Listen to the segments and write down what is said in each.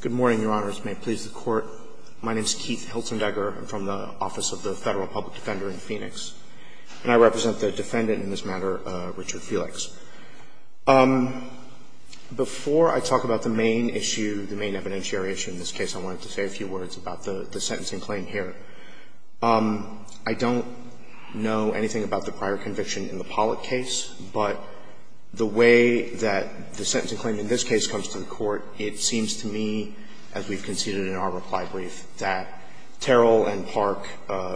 Good morning, Your Honors. May it please the Court. My name is Keith Hiltzendegger. I'm from the Office of the Federal Public Defender in Phoenix. And I represent the defendant in this matter, Richard Felix. Before I talk about the main issue, the main evidentiary issue in this case, I wanted to say a few words about the sentencing claim here. I don't know anything about the prior conviction in the Pollack case, but the way that the sentencing claim in this case comes to the Court, it seems to me, as we've conceded in our reply brief, that Terrell and Park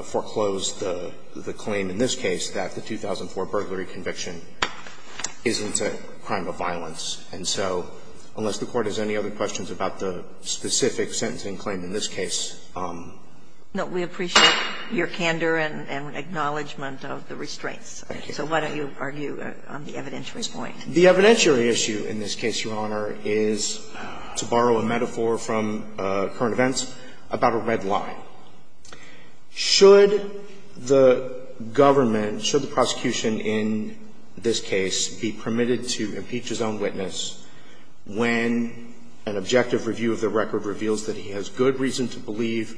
foreclosed the claim in this case that the 2004 burglary conviction isn't a crime of violence. And so, unless the Court has any other questions about the specific sentencing claim in this case. No, we appreciate your candor and acknowledgment of the restraints. Thank you. So why don't you argue on the evidentiary point? The evidentiary issue in this case, Your Honor, is, to borrow a metaphor from current events, about a red line. Should the government, should the prosecution in this case be permitted to impeach his own witness when an objective review of the record reveals that he has good reason to believe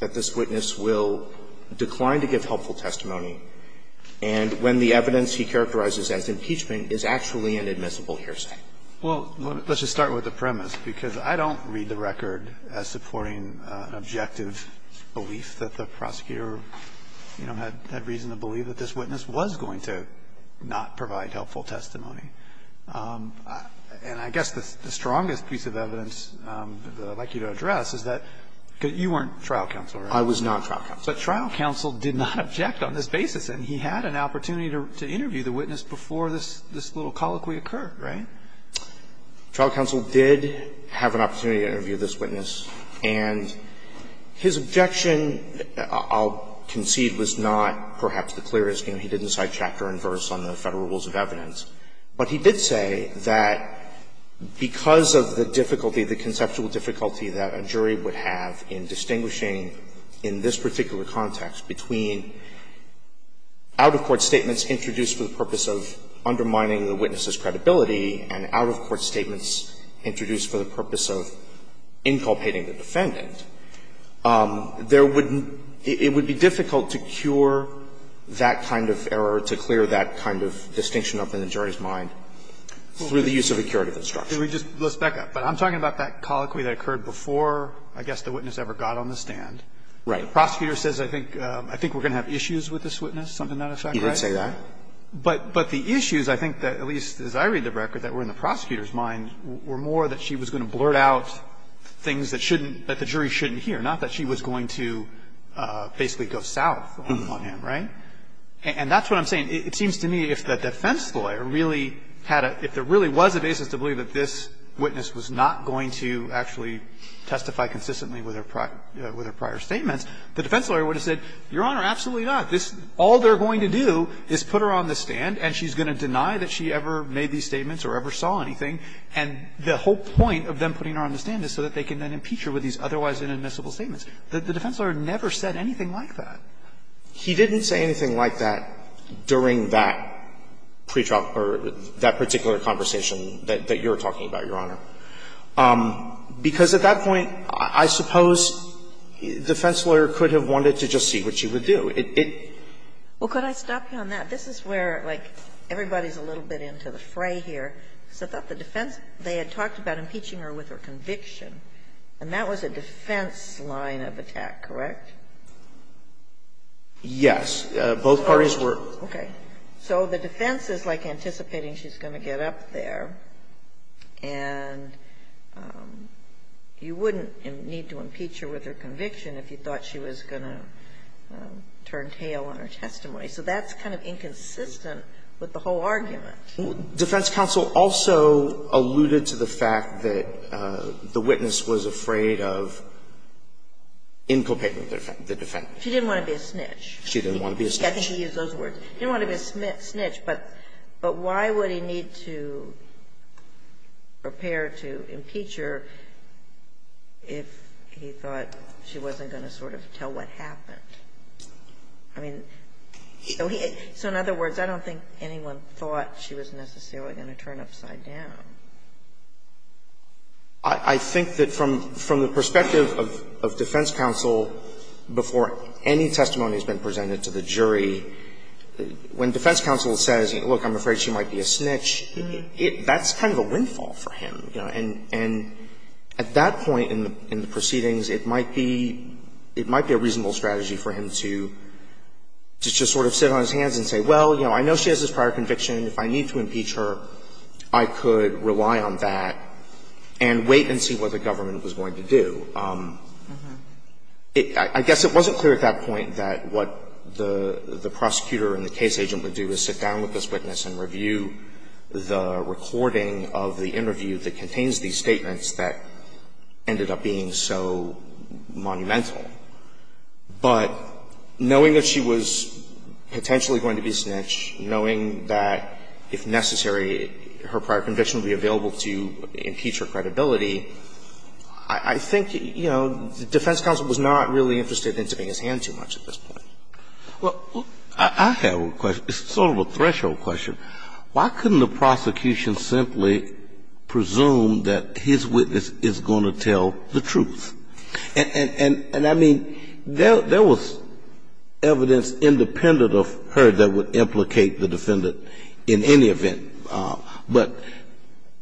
that this witness will decline to give helpful testimony, and when the evidence he characterizes as impeachment is actually an admissible hearsay? Well, let's just start with the premise, because I don't read the record as supporting an objective belief that the prosecutor, you know, had reason to believe that this witness was going to not provide helpful testimony. And I guess the strongest piece of evidence that I'd like you to address is that you weren't trial counsel, right? I was not trial counsel. But trial counsel did not object on this basis. And he had an opportunity to interview the witness before this little colloquy occurred, right? Trial counsel did have an opportunity to interview this witness. And his objection, I'll concede, was not perhaps the clearest. He didn't cite chapter and verse on the Federal Rules of Evidence. But he did say that because of the difficulty, the conceptual difficulty that a jury would have in distinguishing in this particular context between out-of-court statements introduced for the purpose of undermining the witness's credibility and out-of-court statements introduced for the purpose of inculpating the defendant, there would be difficult to cure that kind of error, to clear that kind of distinction up in the jury's mind through the use of a curative instruction. Let's back up. But I'm talking about that colloquy that occurred before, I guess, the witness ever got on the stand. Right. The prosecutor says, I think, I think we're going to have issues with this witness, something to that effect, right? You would say that. But the issues, I think, that at least as I read the record, that were in the prosecutor's mind were more that she was going to blurt out things that shouldn't, that the jury shouldn't hear, not that she was going to basically go south on him, right? And that's what I'm saying. It seems to me if the defense lawyer really had a, if there really was a basis to believe that this witness was not going to actually testify consistently with her prior statements, the defense lawyer would have said, Your Honor, absolutely not. This, all they're going to do is put her on the stand, and she's going to deny that she ever made these statements or ever saw anything. And the whole point of them putting her on the stand is so that they can then impeach her with these otherwise inadmissible statements. The defense lawyer never said anything like that. He didn't say anything like that during that pre-trial or that particular conversation that you're talking about, Your Honor. Because at that point, I suppose defense lawyer could have wanted to just see what she would do. It, it. Well, could I stop you on that? This is where, like, everybody's a little bit into the fray here, because I thought the defense, they had talked about impeaching her with her conviction, and that was a defense line of attack, correct? Yes. Both parties were. Okay. So the defense is like anticipating she's going to get up there, and you wouldn't need to impeach her with her conviction if you thought she was going to turn tail on her testimony. So that's kind of inconsistent with the whole argument. Defense counsel also alluded to the fact that the witness was afraid of inculpating the defendant. She didn't want to be a snitch. She didn't want to be a snitch. I think he used those words. He didn't want to be a snitch, but why would he need to prepare to impeach her if he thought she wasn't going to sort of tell what happened? I mean, so in other words, I don't think anyone thought she was necessarily going to turn upside down. I think that from the perspective of defense counsel, before any testimony has been presented to the jury, when defense counsel says, look, I'm afraid she might be a snitch, that's kind of a windfall for him. And at that point in the proceedings, it might be a reasonable strategy for him to just sort of sit on his hands and say, well, I know she has this prior conviction. If I need to impeach her, I could rely on that and wait and see what the government was going to do. I guess it wasn't clear at that point that what the prosecutor and the case agent would do is sit down with this witness and review the recording of the interview that contains these statements that ended up being so monumental. But knowing that she was potentially going to be a snitch, knowing that, if necessary, her prior conviction would be available to impeach her credibility, I think, you know, defense counsel was not really interested in tipping his hand too much at this threshold question. Why couldn't the prosecution simply presume that his witness is going to tell the truth? And I mean, there was evidence independent of her that would implicate the defendant in any event. But,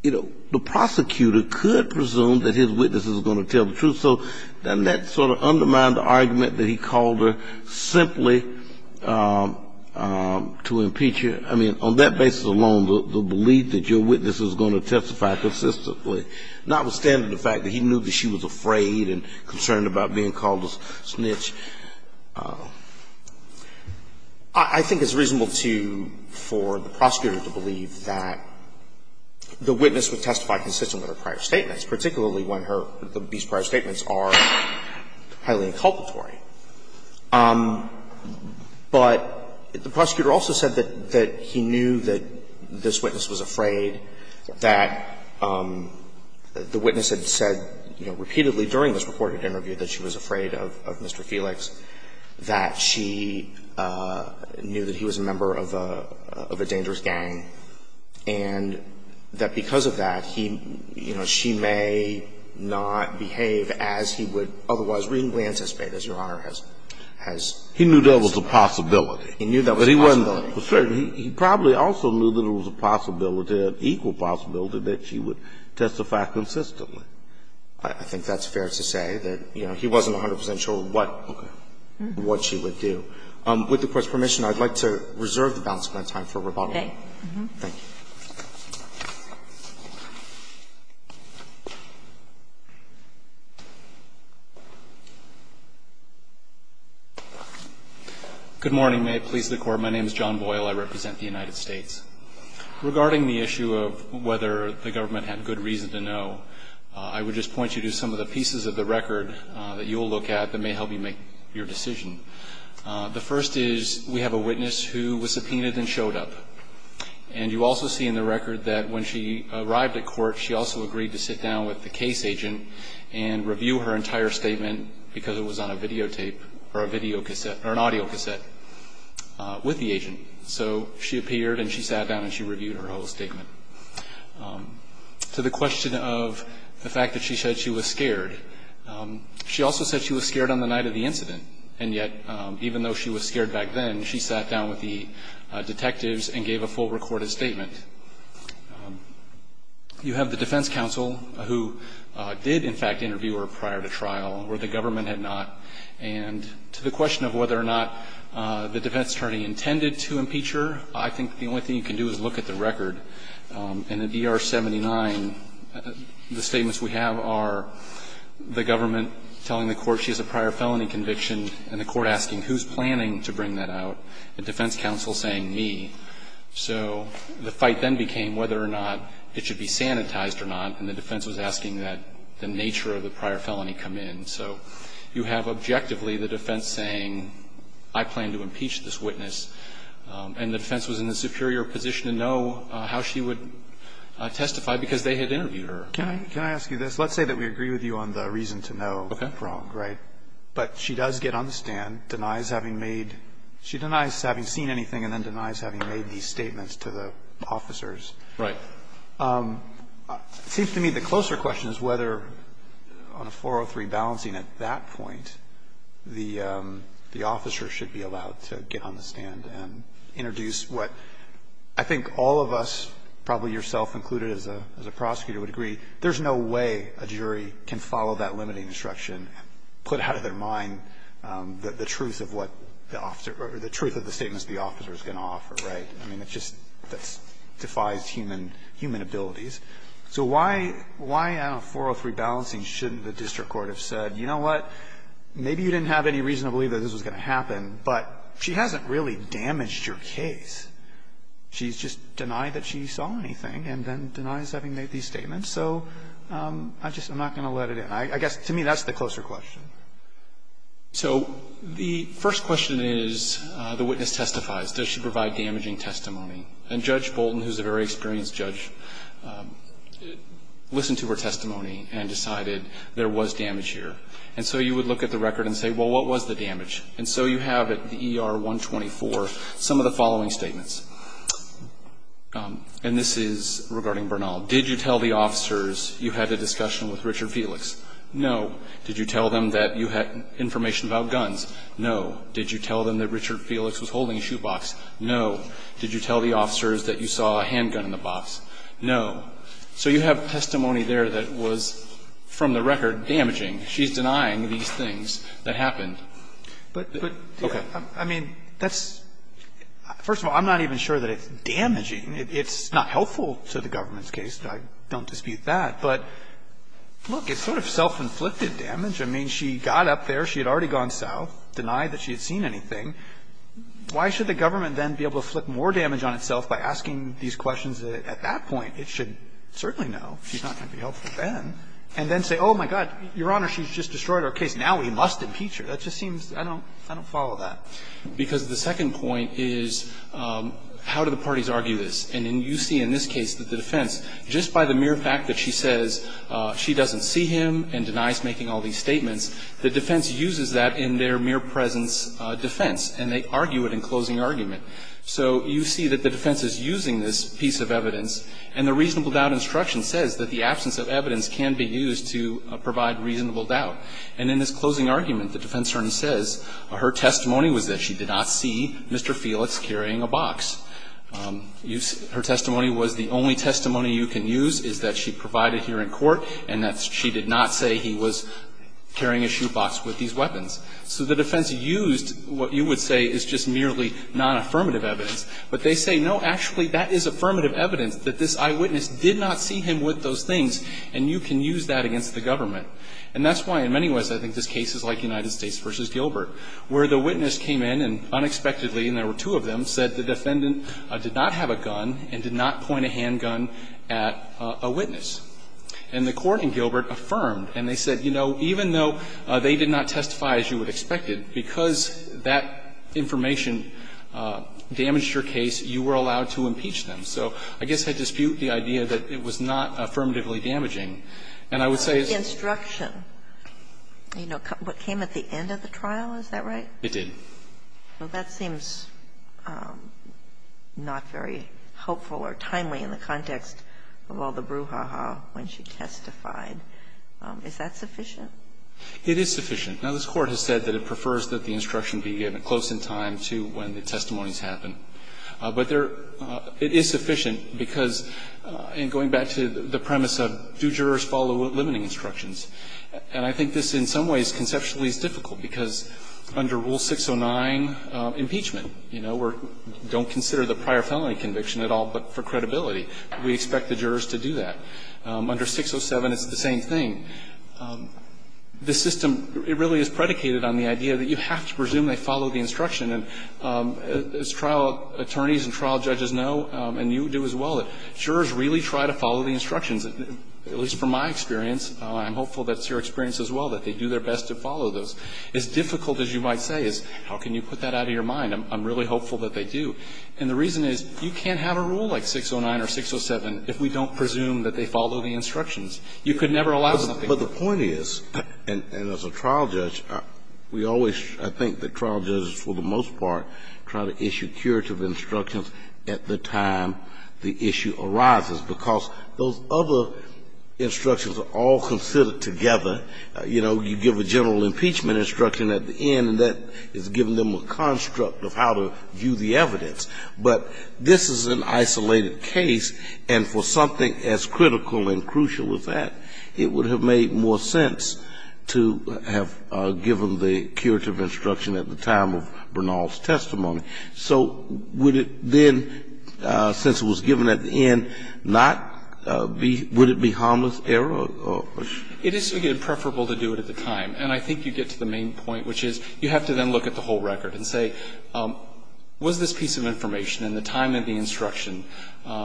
you know, the prosecutor could presume that his witness is going to tell the truth. And so that sort of undermined the argument that he called her simply to impeach her. I mean, on that basis alone, the belief that your witness is going to testify consistently, notwithstanding the fact that he knew that she was afraid and concerned about being called a snitch. I think it's reasonable to you for the prosecutor to believe that the witness would have said that the evidence are highly inculpatory. But the prosecutor also said that he knew that this witness was afraid, that the witness had said, you know, repeatedly during this recorded interview that she was afraid of Mr. Felix, that she knew that he was a member of a dangerous gang, and that because of that, he, you know, she may not behave as he would otherwise reasonably anticipate, as Your Honor has said. He knew that was a possibility. He knew that was a possibility. But he wasn't certain. He probably also knew that it was a possibility, an equal possibility, that she would testify consistently. I think that's fair to say, that, you know, he wasn't 100 percent sure what she would do. With the Court's permission, I'd like to reserve the balance of my time for rebuttal. Thank you. Mr. Boyle. Good morning. May it please the Court. My name is John Boyle. I represent the United States. Regarding the issue of whether the government had good reason to know, I would just point you to some of the pieces of the record that you'll look at that may help you make your decision. The first is we have a witness who was subpoenaed and showed up. And you also see in the record that when she arrived at court, she also agreed to sit down with the case agent and review her entire statement because it was on a videotape or a videocassette or an audio cassette with the agent. So she appeared and she sat down and she reviewed her whole statement. To the question of the fact that she said she was scared, she also said she was scared on the night of the incident. And yet, even though she was scared back then, she sat down with the detectives and gave a full recorded statement. You have the defense counsel who did, in fact, interview her prior to trial where the government had not. And to the question of whether or not the defense attorney intended to impeach her, I think the only thing you can do is look at the record. And in DR-79, the statements we have are the government telling the court she has a prior felony conviction and the court asking who's planning to bring that out, the defense counsel saying me. So the fight then became whether or not it should be sanitized or not. And the defense was asking that the nature of the prior felony come in. So you have objectively the defense saying, I plan to impeach this witness, and the defense was in a superior position to know how she would testify because they had interviewed her. Kennedy. Can I ask you this? Let's say that we agree with you on the reason to know. Okay. Wrong, right? But she does get on the stand, denies having made – she denies having seen anything and then denies having made these statements to the officers. Right. It seems to me the closer question is whether on a 403 balancing at that point, the officer should be allowed to get on the stand and introduce what – I think all of us, probably yourself included as a prosecutor, would agree there's no way a jury can follow that limiting instruction, put out of their mind the truth of what the officer – or the truth of the statements the officer is going to offer. Right? I mean, it just defies human abilities. So why on a 403 balancing shouldn't the district court have said, you know what, maybe you didn't have any reason to believe that this was going to happen, but she just denied that she saw anything and then denies having made these statements. So I just – I'm not going to let it in. I guess to me that's the closer question. So the first question is the witness testifies. Does she provide damaging testimony? And Judge Bolton, who's a very experienced judge, listened to her testimony and decided there was damage here. And so you would look at the record and say, well, what was the damage? And so you have at the ER-124 some of the following statements. And this is regarding Bernal. Did you tell the officers you had a discussion with Richard Felix? No. Did you tell them that you had information about guns? No. Did you tell them that Richard Felix was holding a shoebox? No. Did you tell the officers that you saw a handgun in the box? No. So you have testimony there that was, from the record, damaging. She's denying these things that happened. But, I mean, that's – first of all, I'm not even sure that it's damaging. It's not helpful to the government's case. I don't dispute that. But, look, it's sort of self-inflicted damage. I mean, she got up there. She had already gone south, denied that she had seen anything. Why should the government then be able to flip more damage on itself by asking these questions at that point? It should certainly know she's not going to be helpful then, and then say, oh, my God, Your Honor, she's just destroyed our case. Now we must impeach her. That just seems – I don't follow that. Because the second point is, how do the parties argue this? And you see in this case that the defense, just by the mere fact that she says she doesn't see him and denies making all these statements, the defense uses that in their mere presence defense, and they argue it in closing argument. So you see that the defense is using this piece of evidence, and the reasonable doubt instruction says that the absence of evidence can be used to provide reasonable doubt. And in this closing argument, the defense attorney says her testimony was that she did not see Mr. Felix carrying a box. Her testimony was the only testimony you can use is that she provided here in court and that she did not say he was carrying a shoebox with these weapons. So the defense used what you would say is just merely nonaffirmative evidence. But they say, no, actually, that is affirmative evidence that this eyewitness did not see him with those things, and you can use that against the government. And that's why, in many ways, I think this case is like United States v. Gilbert, where the witness came in and unexpectedly, and there were two of them, said the defendant did not have a gun and did not point a handgun at a witness. And the Court in Gilbert affirmed, and they said, you know, even though they did not testify as you would expect it, because that information damaged your case, you were allowed to impeach them. So I guess I dispute the idea that it was not affirmatively damaging. And I would say it's not. Sotomayor, what came at the end of the trial, is that right? It did. Well, that seems not very hopeful or timely in the context of all the brouhaha when she testified. Is that sufficient? It is sufficient. Now, this Court has said that it prefers that the instruction be given close in time to when the testimonies happen. But there – it is sufficient, because in going back to the premise of do jurors follow limiting instructions, and I think this in some ways conceptually is difficult, because under Rule 609, impeachment, you know, we don't consider the prior felony conviction at all but for credibility. We expect the jurors to do that. Under 607, it's the same thing. The system, it really is predicated on the idea that you have to presume they follow the instruction. And as trial attorneys and trial judges know, and you do as well, that jurors really try to follow the instructions, at least from my experience. I'm hopeful that's your experience as well, that they do their best to follow those. As difficult as you might say is, how can you put that out of your mind? I'm really hopeful that they do. And the reason is, you can't have a rule like 609 or 607 if we don't presume that they follow the instructions. You could never allow something like that. And as a trial judge, we always, I think that trial judges for the most part, try to issue curative instructions at the time the issue arises, because those other instructions are all considered together. You know, you give a general impeachment instruction at the end, and that is giving them a construct of how to view the evidence. But this is an isolated case, and for something as critical and crucial as that, it would have made more sense to have given the curative instruction at the time of Bernal's testimony. So would it then, since it was given at the end, not be, would it be harmless error? It is, again, preferable to do it at the time. And I think you get to the main point, which is you have to then look at the whole record and say, was this piece of information in the time of the instruction,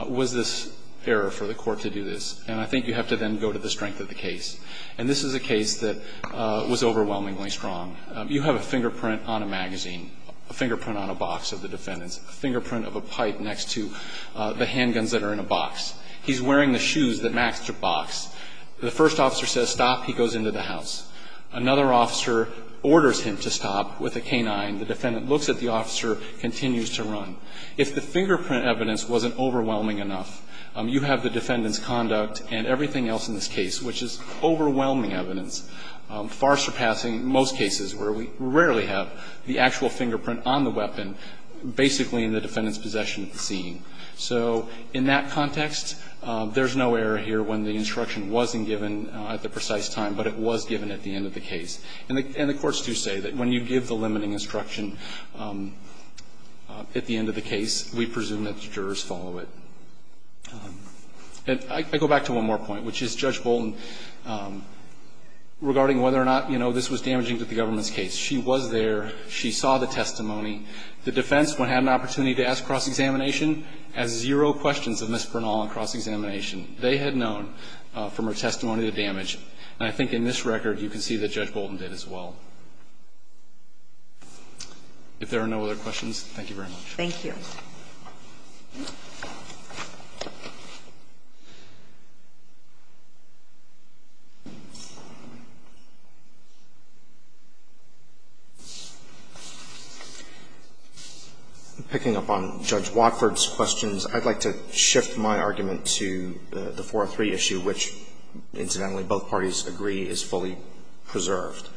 was this error for the court to do this? And I think you have to then go to the strength of the case. And this is a case that was overwhelmingly strong. You have a fingerprint on a magazine, a fingerprint on a box of the defendant's, a fingerprint of a pipe next to the handguns that are in a box. He's wearing the shoes that Max took box. The first officer says stop. He goes into the house. Another officer orders him to stop with a canine. The defendant looks at the officer, continues to run. If the fingerprint evidence wasn't overwhelming enough, you have the defendant's conduct and everything else in this case, which is overwhelming evidence, far surpassing most cases where we rarely have the actual fingerprint on the weapon basically in the defendant's possession at the scene. So in that context, there's no error here when the instruction wasn't given at the precise time, but it was given at the end of the case. And the courts do say that when you give the limiting instruction at the end of the case, we presume that the jurors follow it. And I go back to one more point, which is Judge Bolton, regarding whether or not, you know, this was damaging to the government's case. She was there. She saw the testimony. The defense, when had an opportunity to ask cross-examination, has zero questions of Ms. Bernal on cross-examination. They had known from her testimony the damage. And I think in this record, you can see that Judge Bolton did as well. If there are no other questions, thank you very much. Thank you. Picking up on Judge Watford's questions, I'd like to shift my argument to the 403 issue, which, incidentally, both parties agree is fully preserved.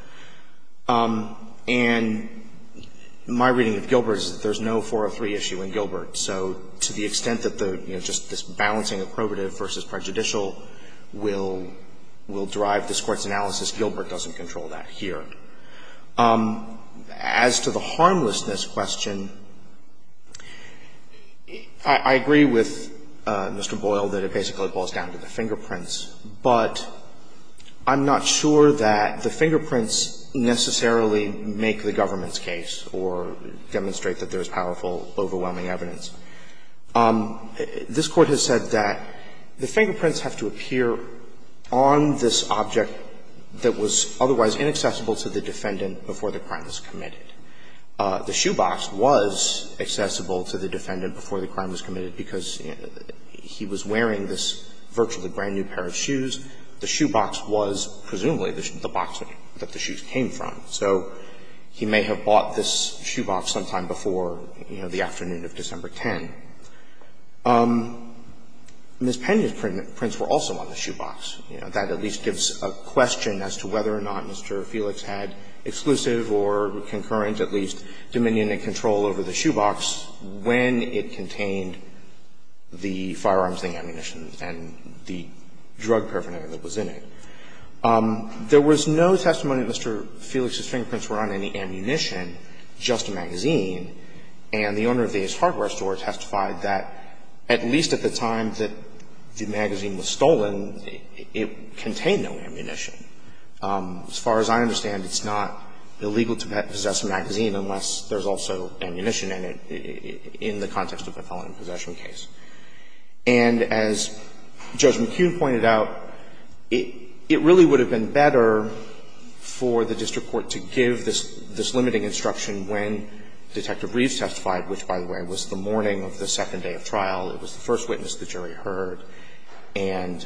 And my reading of Gilbert is that there's no 403 issue in Gilbert. So to the extent that the, you know, just this balancing of probative versus prejudicial will drive this Court's analysis, Gilbert doesn't control that here. As to the harmlessness question, I agree with Mr. Boyle that it basically boils down to the fingerprints, but I'm not sure that the fingerprints necessarily make the government's case or demonstrate that there's powerful, overwhelming evidence. This Court has said that the fingerprints have to appear on this object that was otherwise inaccessible to the defendant before the crime was committed. The shoebox was accessible to the defendant before the crime was committed because he was wearing this virtually brand-new pair of shoes. The shoebox was presumably the box that the shoes came from. So he may have bought this shoebox sometime before, you know, the afternoon of December 10. Ms. Pena's prints were also on the shoebox. You know, that at least gives a question as to whether or not Mr. Felix had exclusive or concurrent, at least, dominion and control over the shoebox when it contained the firearms and the ammunition and the drug paraphernalia that was in it. There was no testimony that Mr. Felix's fingerprints were on any ammunition, just a magazine, and the owner of the Ace Hardware store testified that at least at the time that the magazine was stolen, it contained no ammunition. As far as I understand, it's not illegal to possess a magazine unless there's also ammunition in it in the context of a felony possession case. And as Judge McHugh pointed out, it really would have been better for the district court to give this limiting instruction when Detective Reeves testified, which, by the way, was the morning of the second day of trial. It was the first witness the jury heard. And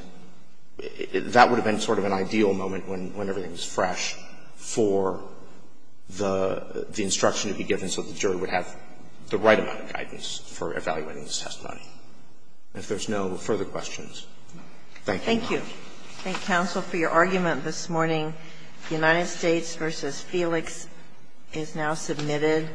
that would have been sort of an ideal moment when everything was fresh for the instruction to be given so that the jury would have the right amount of guidance for evaluating this testimony. If there's no further questions, thank you very much. Thank you. Thank you, counsel, for your argument this morning. The United States v. Felix is now submitted.